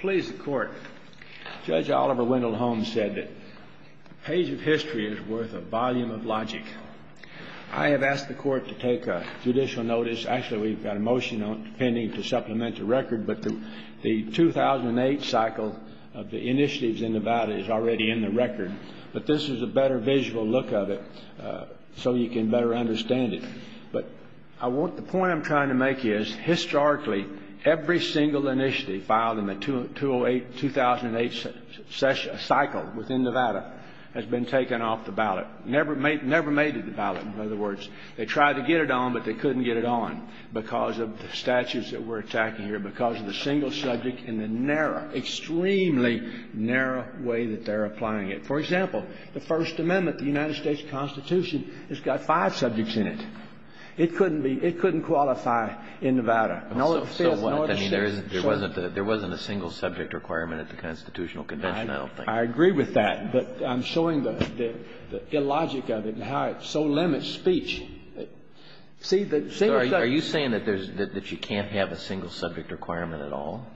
Please, the Court. Judge Oliver Wendell Holmes said that a page of history is worth a volume of logic. I have asked the Court to take a judicial notice. Actually, we've got a motion pending to supplement the record, but the 2008 cycle of the initiatives in the ballot is already in the record. But this is a better visual look of it so you can better understand it. But the point I'm trying to make is, historically, every single initiative filed in the 2008 cycle within Nevada has been taken off the ballot. Never made it to the ballot. In other words, they tried to get it on, but they couldn't get it on because of the statutes that we're attacking here, because of the single subject and the narrow, extremely narrow way that they're applying it. For example, the First Amendment of the United States Constitution, it's got five subjects in it. It couldn't be — it couldn't qualify in Nevada. And all it says — So what? I mean, there isn't — there wasn't a single subject requirement at the Constitutional Convention, I don't think. I agree with that, but I'm showing the illogic of it and how it so limits speech. See, the single subject — So are you saying that there's — that you can't have a single subject requirement at all?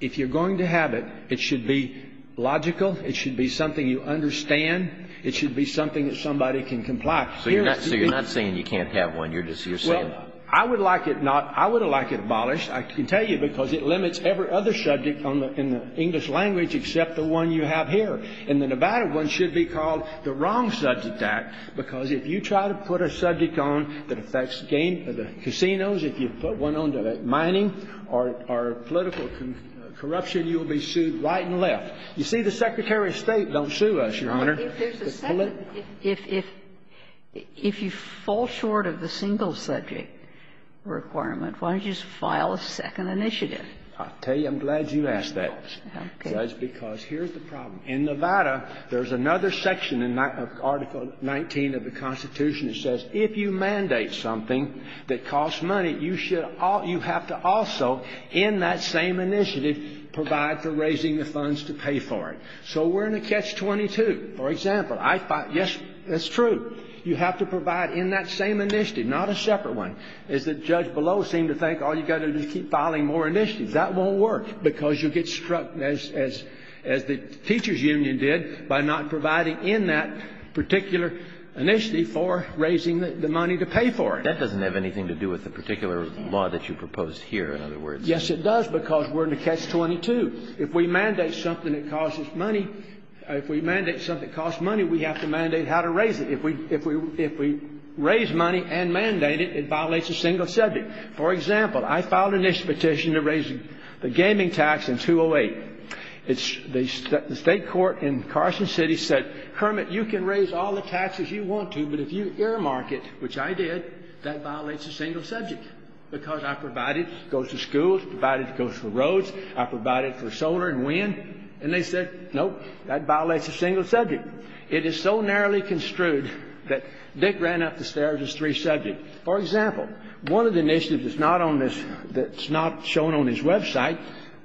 If you're going to have it, it should be logical. It should be something you understand. It should be something that somebody can comply. So you're not saying you can't have one. You're just — you're saying — Well, I would like it not — I would like it abolished, I can tell you, because it limits every other subject in the English language except the one you have here. And the Nevada one should be called the wrong subject act, because if you try to put a subject on that affects the casinos, if you put one on to mining or political corruption, you will be sued right and left. You see, the Secretary of State don't sue us, Your Honor. If there's a second — if — if you fall short of the single subject requirement, why don't you just file a second initiative? I'll tell you, I'm glad you asked that. Okay. Because here's the problem. In Nevada, there's another section in Article 19 of the Constitution that says if you mandate something that costs money, you should — you have to also, in that same initiative, provide for raising the funds to pay for it. So we're in a catch-22. For example, I — yes, that's true. You have to provide in that same initiative, not a separate one. As the judge below seemed to think, oh, you've got to just keep filing more initiatives. That won't work, because you'll get struck, as the teachers' union did, by not providing in that particular initiative for raising the money to pay for it. That doesn't have anything to do with the particular law that you proposed here, in other words. Yes, it does, because we're in a catch-22. If we mandate something that costs money — if we mandate something that costs money, we have to mandate how to raise it. If we raise money and mandate it, it violates a single subject. For example, I filed an initiative petition to raise the gaming tax in 208. The state court in Carson City said, Kermit, you can raise all the taxes you want to, but if you earmark it, which I did, that violates a single subject, because I provided — it goes to schools, provided it goes to roads, I provided it for solar and wind. And they said, nope, that violates a single subject. It is so narrowly construed that Dick ran up the stairs as three subjects. For example, one of the initiatives that's not on this — that's not shown on his website,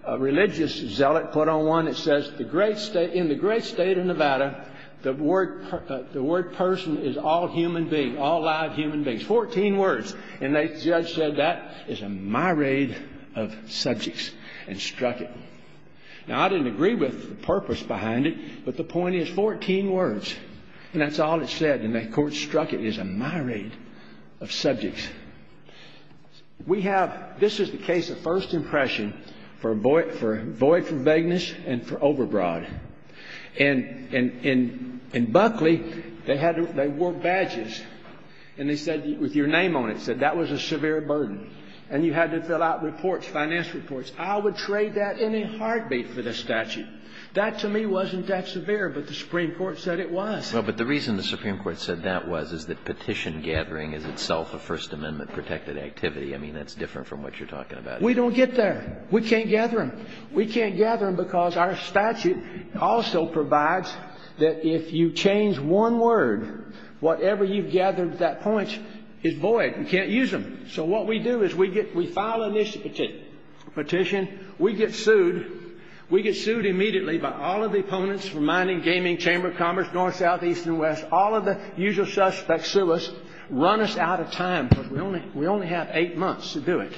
a religious zealot put on one that says, in the great state of Nevada, the word person is all human being, all live human beings. Fourteen words. And the judge said, that is a myriad of subjects, and struck it. Now, I didn't agree with the purpose behind it, but the point is 14 words, and that's all it said. And the court struck it as a myriad of subjects. We have — this is the case of first impression for void for vagueness and for overbroad. And in Buckley, they had to — they wore badges, and they said, with your name on it, said that was a severe burden. And you had to fill out reports, finance reports. I would trade that in a heartbeat for this statute. That, to me, wasn't that severe, but the Supreme Court said it was. Well, but the reason the Supreme Court said that was is that petition gathering is itself a First Amendment-protected activity. I mean, that's different from what you're talking about. We don't get there. We can't gather them. We can't gather them because our statute also provides that if you change one word, whatever you've gathered at that point is void. We can't use them. So what we do is we get — we file a petition. We get sued. We get sued immediately by all of the opponents from Mining, Gaming, Chamber of Commerce, North, South, East, and West. All of the usual suspects sue us, run us out of time because we only have eight months to do it.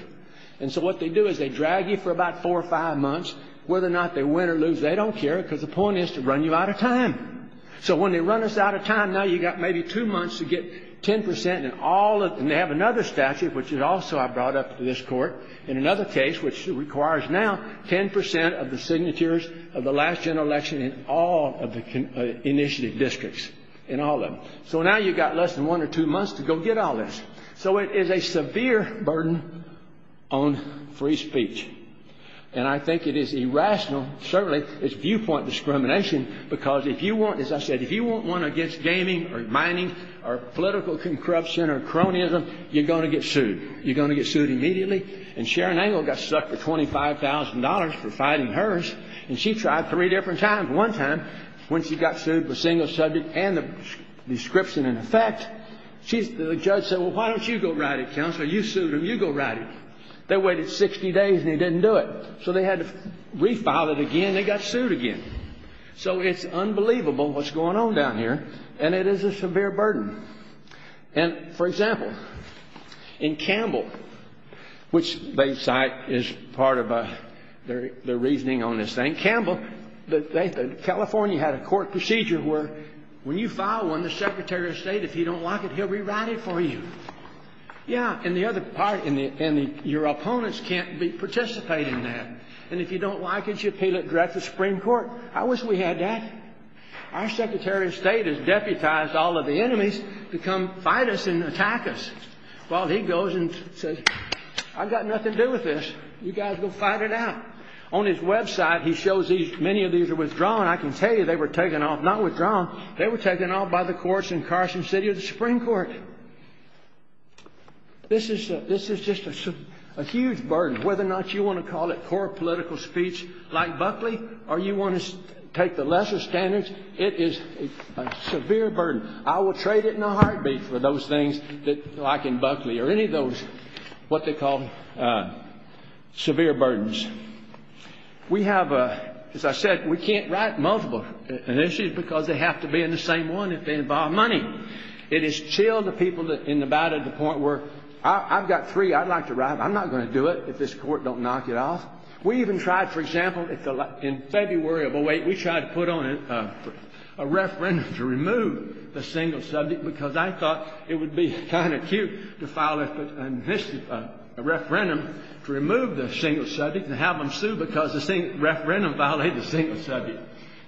And so what they do is they drag you for about four or five months. Whether or not they win or lose, they don't care because the point is to run you out of time. So when they run us out of time, now you've got maybe two months to get 10 percent and all of — and they have another statute, which is also I brought up to this court, and another case which requires now 10 percent of the signatures of the last general election in all of the initiative districts, in all of them. So now you've got less than one or two months to go get all this. So it is a severe burden on free speech. And I think it is irrational. Certainly, it's viewpoint discrimination because if you want — as I said, if you want one against gaming or mining or political corruption or cronyism, you're going to get sued. You're going to get sued immediately. And Sharon Angle got stuck for $25,000 for fighting hers, and she tried three different times. One time, when she got sued for single subject and the description in effect, the judge said, well, why don't you go write it, Counselor? You sued him. You go write it. They waited 60 days, and they didn't do it. So they had to refile it again. They got sued again. So it's unbelievable what's going on down here, and it is a severe burden. And, for example, in Campbell, which they cite as part of their reasoning on this thing, Campbell, California had a court procedure where when you file one, the secretary of state, if you don't like it, he'll rewrite it for you. Yeah, and the other part, your opponents can't participate in that. And if you don't like it, you appeal it directly to the Supreme Court. I wish we had that. Our secretary of state has deputized all of the enemies to come fight us and attack us. Well, he goes and says, I've got nothing to do with this. You guys go fight it out. On his website, he shows many of these are withdrawn. I can tell you they were taken off, not withdrawn. They were taken off by the courts in Carson City or the Supreme Court. This is just a huge burden, whether or not you want to call it core political speech like Buckley or you want to take the lesser standards, it is a severe burden. I will trade it in a heartbeat for those things like in Buckley or any of those what they call severe burdens. We have, as I said, we can't write multiple initiatives because they have to be in the same one if they involve money. It has chilled the people in Nevada to the point where I've got three I'd like to write, but I'm not going to do it if this court don't knock it off. We even tried, for example, in February of 08, we tried to put on a referendum to remove the single subject because I thought it would be kind of cute to file a referendum to remove the single subject and have them sue because the referendum violated the single subject.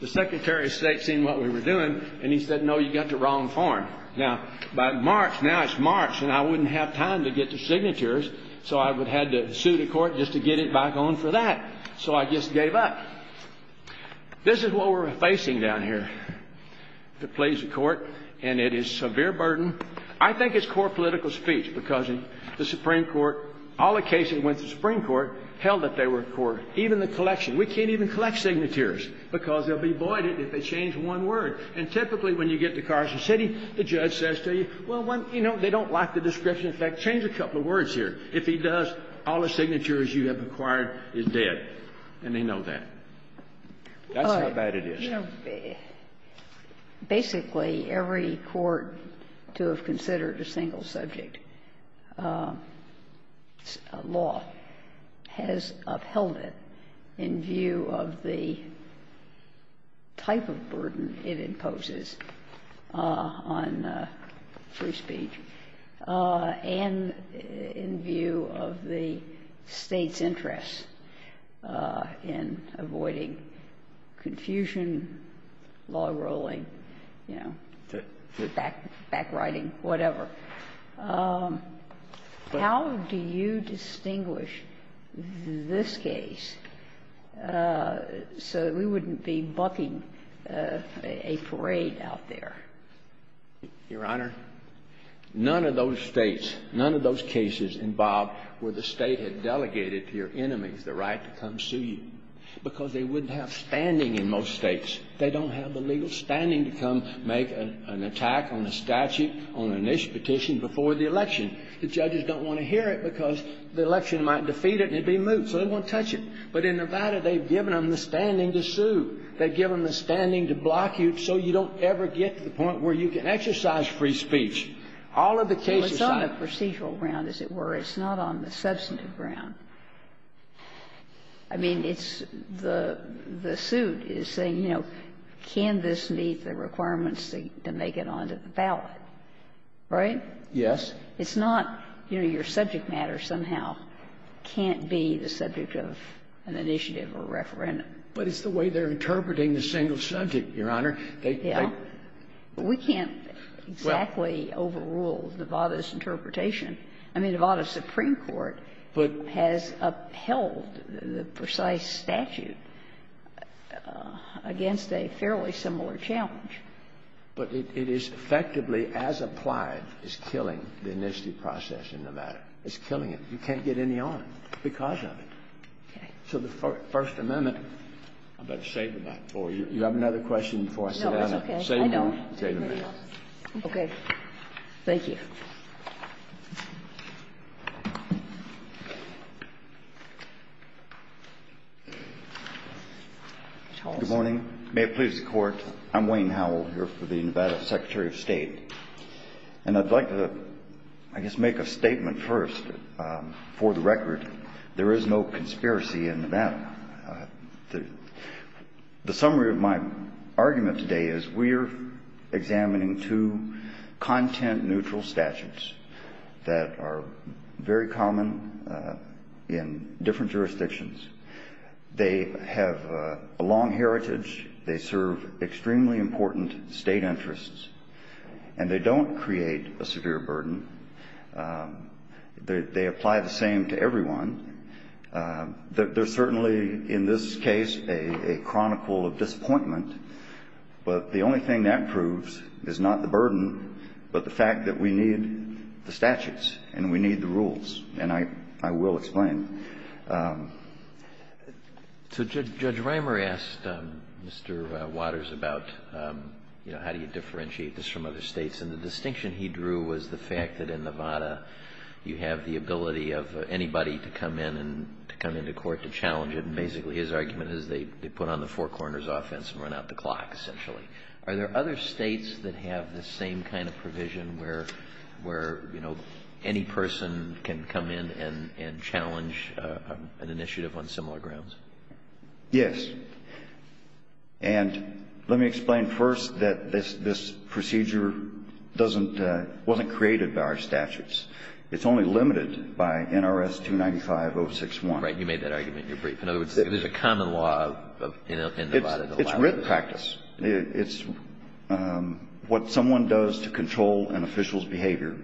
The Secretary of State seen what we were doing and he said, no, you got the wrong form. Now, by March, now it's March, and I wouldn't have time to get the signatures, so I would have to sue the court just to get it back on for that. So I just gave up. This is what we're facing down here, to please the court, and it is severe burden. I think it's core political speech because the Supreme Court, all the cases went to the Supreme Court, held that they were core, even the collection. We can't even collect signatures because they'll be voided if they change one word. And typically when you get to Carson City, the judge says to you, well, you know, they don't like the description. In fact, change a couple of words here. If he does, all the signatures you have acquired is dead, and they know that. That's how bad it is. Basically, every court to have considered a single subject law has upheld it in view of the type of burden it imposes on free speech and in view of the State's interest in avoiding confusion, law ruling, you know, backwriting, whatever. How do you distinguish this case so that we wouldn't be bucking a parade out there? Your Honor, none of those States, none of those cases involved where the State had delegated to your enemies the right to come sue you because they wouldn't have standing in most States. They don't have the legal standing to come make an attack on a statute on an issue petition before the election. The judges don't want to hear it because the election might defeat it and it would be moot, so they don't want to touch it. But in Nevada, they've given them the standing to sue. They've given them the standing to block you so you don't ever get to the point where you can exercise free speech. All of the cases I've heard. I mean, it's not on the substantive ground, as it were. It's not on the substantive ground. I mean, it's the suit is saying, you know, can this meet the requirements to make it onto the ballot, right? Yes. It's not, you know, your subject matter somehow can't be the subject of an initiative or referendum. But it's the way they're interpreting the single subject, Your Honor. Yeah. Well, we can't exactly overrule Nevada's interpretation. I mean, Nevada's Supreme Court has upheld the precise statute against a fairly similar challenge. But it is effectively, as applied, is killing the initiative process in Nevada. It's killing it. You can't get any on it because of it. Okay. So the First Amendment. I'd better save that for you. You have another question before I sit down? No, it's okay. I know. Okay. Thank you. Good morning. May it please the Court. I'm Wayne Howell, here for the Nevada Secretary of State. And I'd like to, I guess make a statement first. For the record, there is no conspiracy in Nevada. The summary of my argument today is we're examining two content-neutral statutes that are very common in different jurisdictions. They have a long heritage. They serve extremely important state interests. And they don't create a severe burden. They apply the same to everyone. They're certainly, in this case, a chronicle of disappointment. But the only thing that proves is not the burden, but the fact that we need the statutes and we need the rules. And I will explain. So Judge Reimer asked Mr. Waters about, you know, how do you differentiate this from other states. And the distinction he drew was the fact that in Nevada you have the ability of anybody to come in and to come into court to challenge it. And basically his argument is they put on the four corners offense and run out the clock, essentially. Are there other states that have the same kind of provision where, you know, any person can come in and challenge an initiative on similar grounds? Yes. And let me explain first that this procedure wasn't created by our statutes. It's only limited by NRS 295-061. Right. You made that argument in your brief. In other words, there's a common law in Nevada. It's written practice. It's what someone does to control an official's behavior.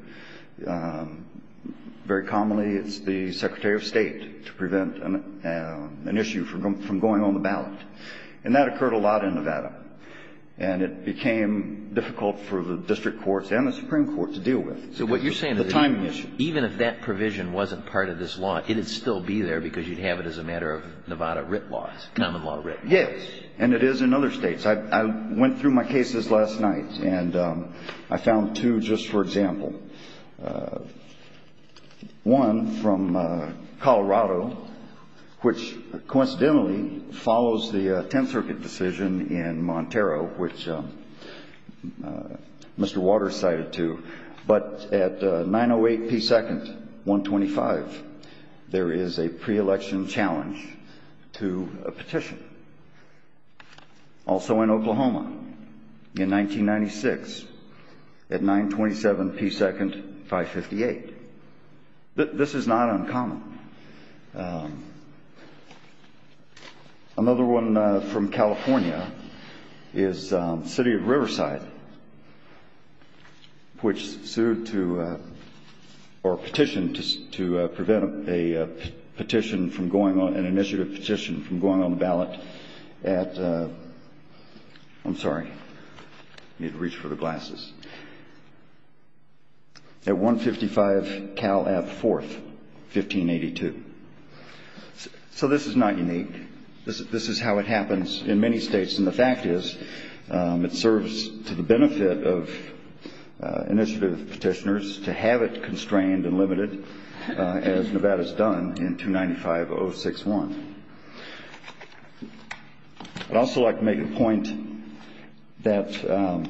Very commonly it's the Secretary of State to prevent an issue from going on the ballot. And that occurred a lot in Nevada. And it became difficult for the district courts and the Supreme Court to deal with. So what you're saying is even if that provision wasn't part of this law, it would still be there because you'd have it as a matter of Nevada writ laws, common law writ laws. Yes. And it is in other states. I went through my cases last night, and I found two just for example. One from Colorado, which coincidentally follows the Tenth Circuit decision in Montero, which Mr. Waters cited to. But at 908 P. 2nd, 125, there is a pre-election challenge to a petition. Also in Oklahoma in 1996 at 927 P. 2nd, 558. This is not uncommon. Another one from California is the city of Riverside, which sued to or petitioned to prevent a petition from going on, an initiative petition from going on the ballot at, I'm sorry, I need to reach for the glasses. At 155 Cal F. 4th, 1582. So this is not unique. This is how it happens in many states, and the fact is it serves to the benefit of initiative petitioners to have it constrained and limited as Nevada's done in 295-061. I'd also like to make a point that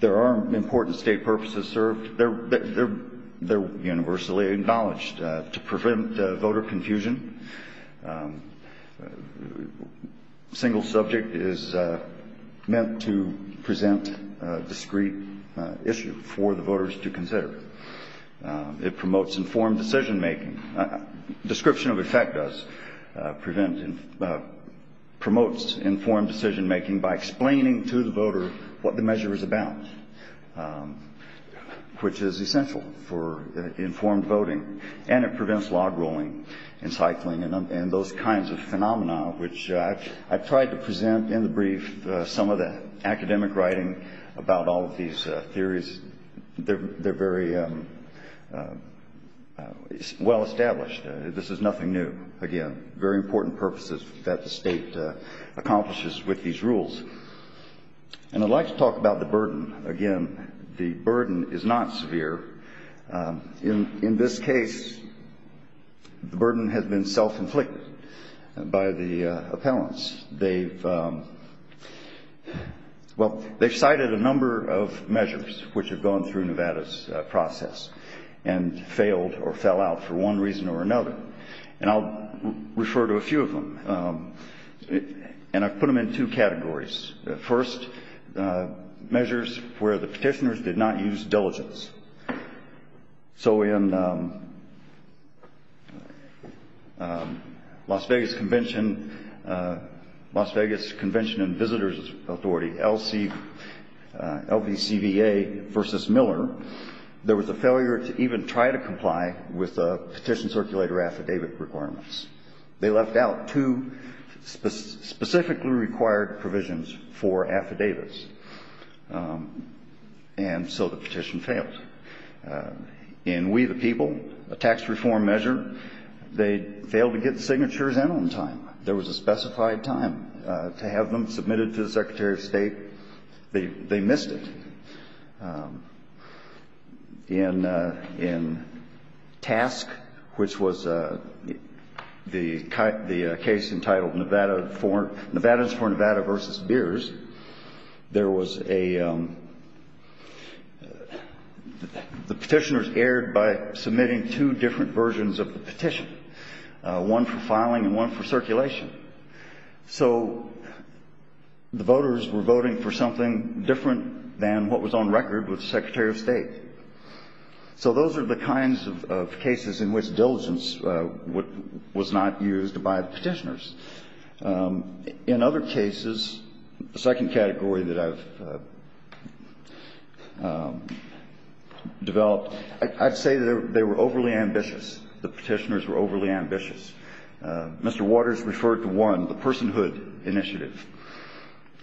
there are important state purposes served. They're universally acknowledged. To prevent voter confusion, a single subject is meant to present a discreet issue for the voters to consider. It promotes informed decision-making. Description of effect does promote informed decision-making by explaining to the voter what the measure is about, which is essential for informed voting. And it prevents log rolling and cycling and those kinds of phenomena, which I've tried to present in the brief some of the academic writing about all of these theories. They're very well established. This is nothing new. Again, very important purposes that the state accomplishes with these rules. And I'd like to talk about the burden. Again, the burden is not severe. In this case, the burden has been self-inflicted by the appellants. They've cited a number of measures which have gone through Nevada's process and failed or fell out for one reason or another. And I'll refer to a few of them. And I've put them in two categories. First, measures where the petitioners did not use diligence. So in Las Vegas Convention and Visitors Authority, LVCVA v. Miller, there was a failure to even try to comply with the petition circulator affidavit requirements. They left out two specifically required provisions for affidavits, and so the petition failed. In We the People, a tax reform measure, they failed to get the signatures in on time. There was a specified time to have them submitted to the Secretary of State. They missed it. In TASC, which was the case entitled Nevada's for Nevada v. Beers, there was a the petitioners erred by submitting two different versions of the petition, one for filing and one for circulation. So the voters were voting for something different than what was on record with the Secretary of State. So those are the kinds of cases in which diligence was not used by the petitioners. In other cases, the second category that I've developed, I'd say they were overly ambitious. The petitioners were overly ambitious. Mr. Waters referred to one, the personhood initiative,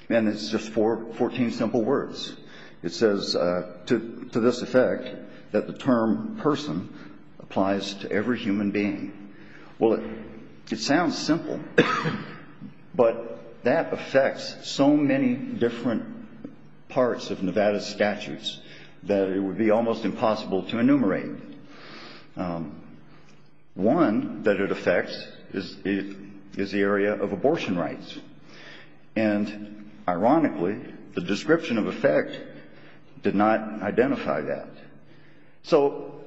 and it's just 14 simple words. It says, to this effect, that the term person applies to every human being. Well, it sounds simple, but that affects so many different parts of Nevada's statutes that it would be almost impossible to enumerate. One that it affects is the area of abortion rights. And ironically, the description of effect did not identify that. So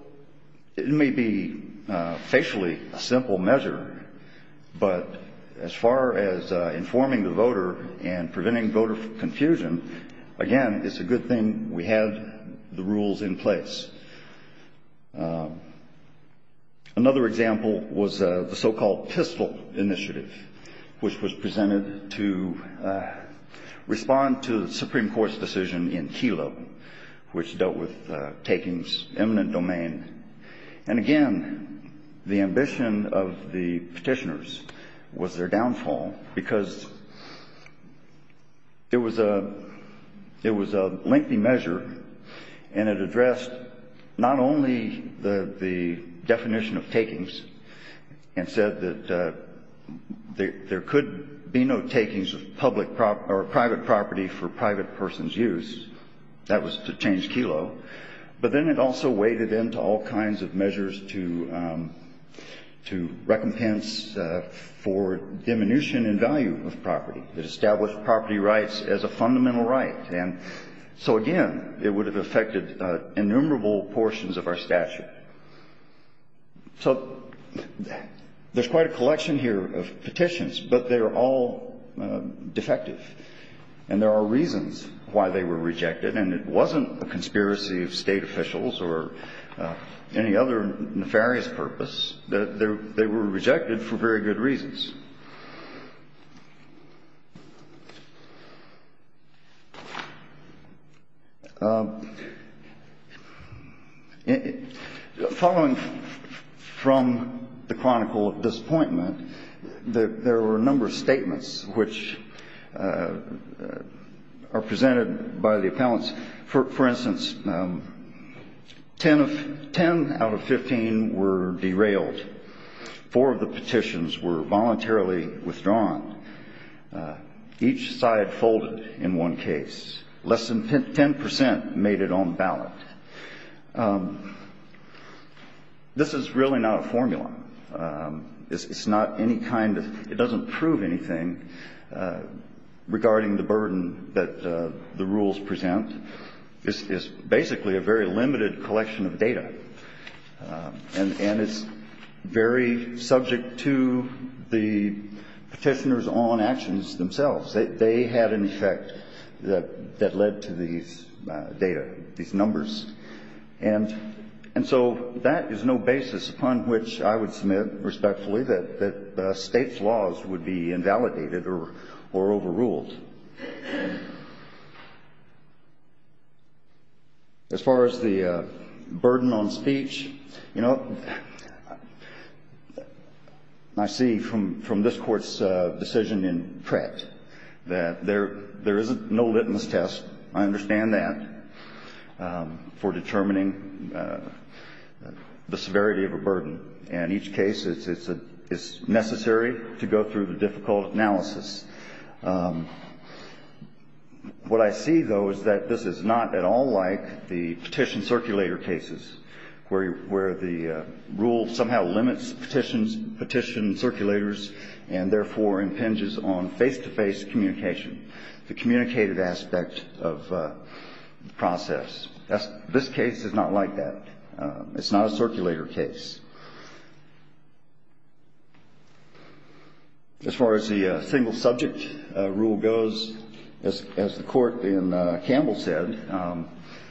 it may be facially a simple measure, but as far as informing the voter and preventing voter confusion, again, it's a good thing we had the rules in place. Another example was the so-called PISTL initiative, which was presented to respond to the Supreme Court's decision in Kelo, which dealt with takings, eminent domain. And again, the ambition of the petitioners was their downfall because it was a lengthy measure, and it addressed not only the definition of takings and said that there could be no takings of public or private property for private person's use. That was to change Kelo. But then it also weighted into all kinds of measures to recompense for diminution in value of property. It established property rights as a fundamental right. And so, again, it would have affected innumerable portions of our statute. So there's quite a collection here of petitions, but they're all defective. And there are reasons why they were rejected. And it wasn't a conspiracy of State officials or any other nefarious purpose. They were rejected for very good reasons. Following from the Chronicle of Disappointment, there were a number of statements which are presented by the appellants. For instance, 10 out of 15 were derailed. Four of the petitions were voluntarily withdrawn. Each side folded in one case. Less than 10 percent made it on ballot. This is really not a formula. It's not any kind of – it doesn't prove anything regarding the burden that the rules present. It's basically a very limited collection of data. And it's very subject to the petitioners on actions themselves. They had an effect that led to these data, these numbers. And so that is no basis upon which I would submit respectfully that State's laws would be invalidated or overruled. As far as the burden on speech, you know, I see from this Court's decision in Pratt that there is no litmus test. I understand that for determining the severity of a burden. In each case, it's necessary to go through the difficult analysis. What I see, though, is that this is not at all like the petition circulator cases, where the rule somehow limits petition circulators and therefore impinges on face-to-face communication, the communicated aspect of the process. This case is not like that. It's not a circulator case. As far as the single-subject rule goes, as the Court in Campbell said,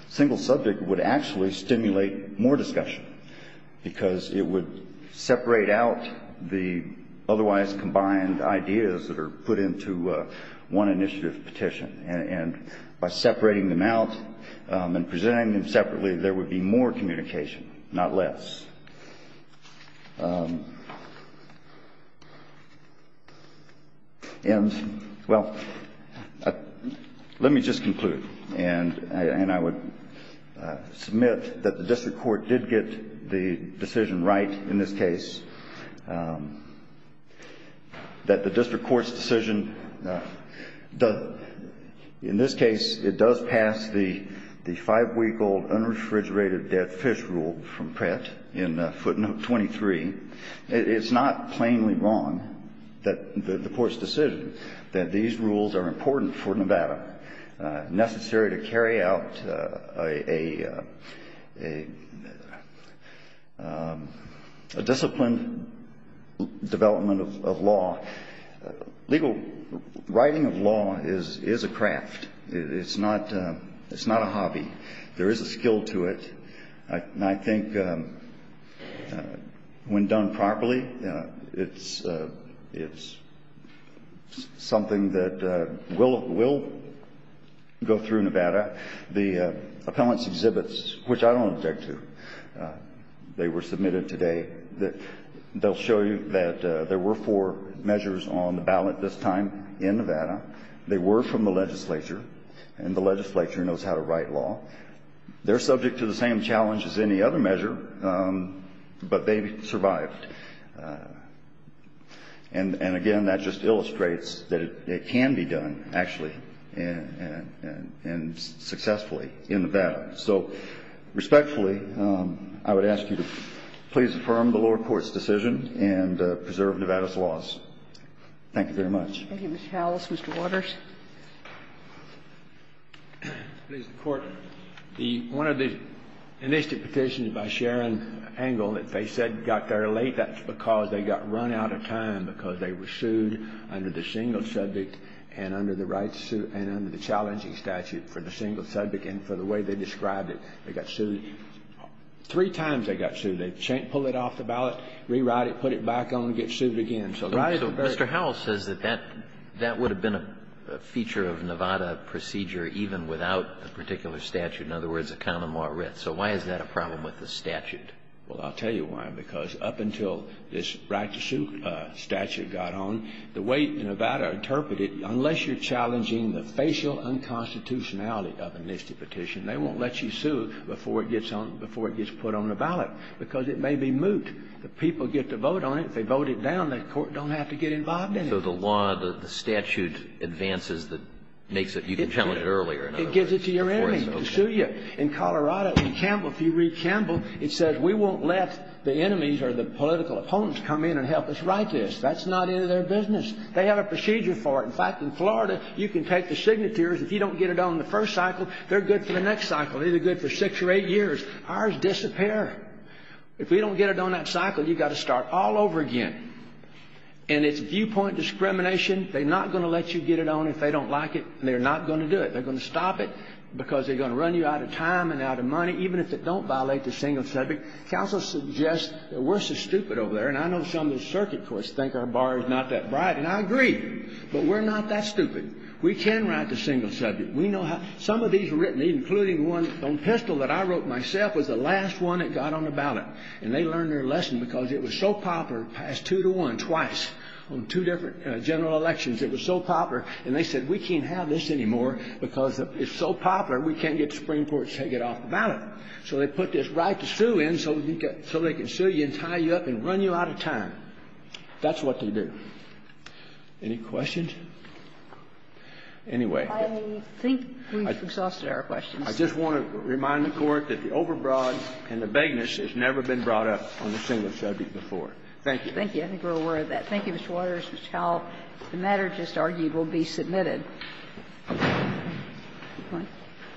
single-subject would actually stimulate more discussion because it would separate out the otherwise combined ideas that are put into one initiative petition. And by separating them out and presenting them separately, there would be more communication, not less. And, well, let me just conclude. And I would submit that the district court did get the decision right in this case, that the district court's decision does, in this case, it does pass the five-week-old unrefrigerated dead fish rule from Pratt in footnote 23. It's not plainly wrong, the court's decision, that these rules are important for Nevada, necessary to carry out a disciplined development of law. Legal writing of law is a craft. It's not a hobby. There is a skill to it. And I think when done properly, it's something that will go through Nevada. The appellant's exhibits, which I don't object to, they were submitted today, they'll show you that there were four measures on the ballot this time in Nevada. They were from the legislature, and the legislature knows how to write law. They're subject to the same challenge as any other measure, but they survived. And, again, that just illustrates that it can be done, actually, and successfully in Nevada. So, respectfully, I would ask you to please affirm the lower court's decision and preserve Nevada's laws. Thank you very much. Thank you, Mr. Howells. Mr. Waters. Please, the Court. One of the initiative petitions by Sharon Engel that they said got there late, that's because they got run out of time because they were sued under the single subject and under the right to sue and under the challenging statute for the single subject, and for the way they described it, they got sued. Three times they got sued. They pulled it off the ballot, rewrote it, put it back on, get sued again. So, right? Mr. Howells says that that would have been a feature of Nevada procedure, even without a particular statute, in other words, a common law writ. So why is that a problem with the statute? Well, I'll tell you why. Because up until this right to sue statute got on, the way Nevada interpreted it, unless you're challenging the facial unconstitutionality of an initiative petition, they won't let you sue before it gets put on the ballot because it may be moot. The people get to vote on it. If they vote it down, the court don't have to get involved in it. So the law, the statute advances that makes it, you can challenge it earlier. It gives it to your enemy to sue you. In Colorado, in Campbell, if you read Campbell, it says we won't let the enemies or the political opponents come in and help us write this. That's not any of their business. They have a procedure for it. In fact, in Florida, you can take the signatures. If you don't get it on the first cycle, they're good for the next cycle, either good for six or eight years. Ours disappear. If we don't get it on that cycle, you've got to start all over again. And it's viewpoint discrimination. They're not going to let you get it on if they don't like it. They're not going to do it. They're going to stop it because they're going to run you out of time and out of money, even if they don't violate the single subject. Counsel suggests that we're so stupid over there. And I know some of the circuit courts think our bar is not that bright. And I agree. But we're not that stupid. We can write the single subject. We know how. Some of these are written, including one on pistol that I wrote myself, was the last one that got on the ballot. And they learned their lesson because it was so popular, passed two to one, twice, on two different general elections. It was so popular. And they said, we can't have this anymore because it's so popular, we can't get the Supreme Court to take it off the ballot. So they put this right to sue in so they can sue you and tie you up and run you out of time. That's what they do. Any questions? Anyway. I think we've exhausted our questions. I just want to remind the Court that the overbroad and the vagueness has never been brought up on the single subject before. Thank you. I think we're aware of that. Thank you, Mr. Waters. This is how the matter just argued will be submitted. Thank you.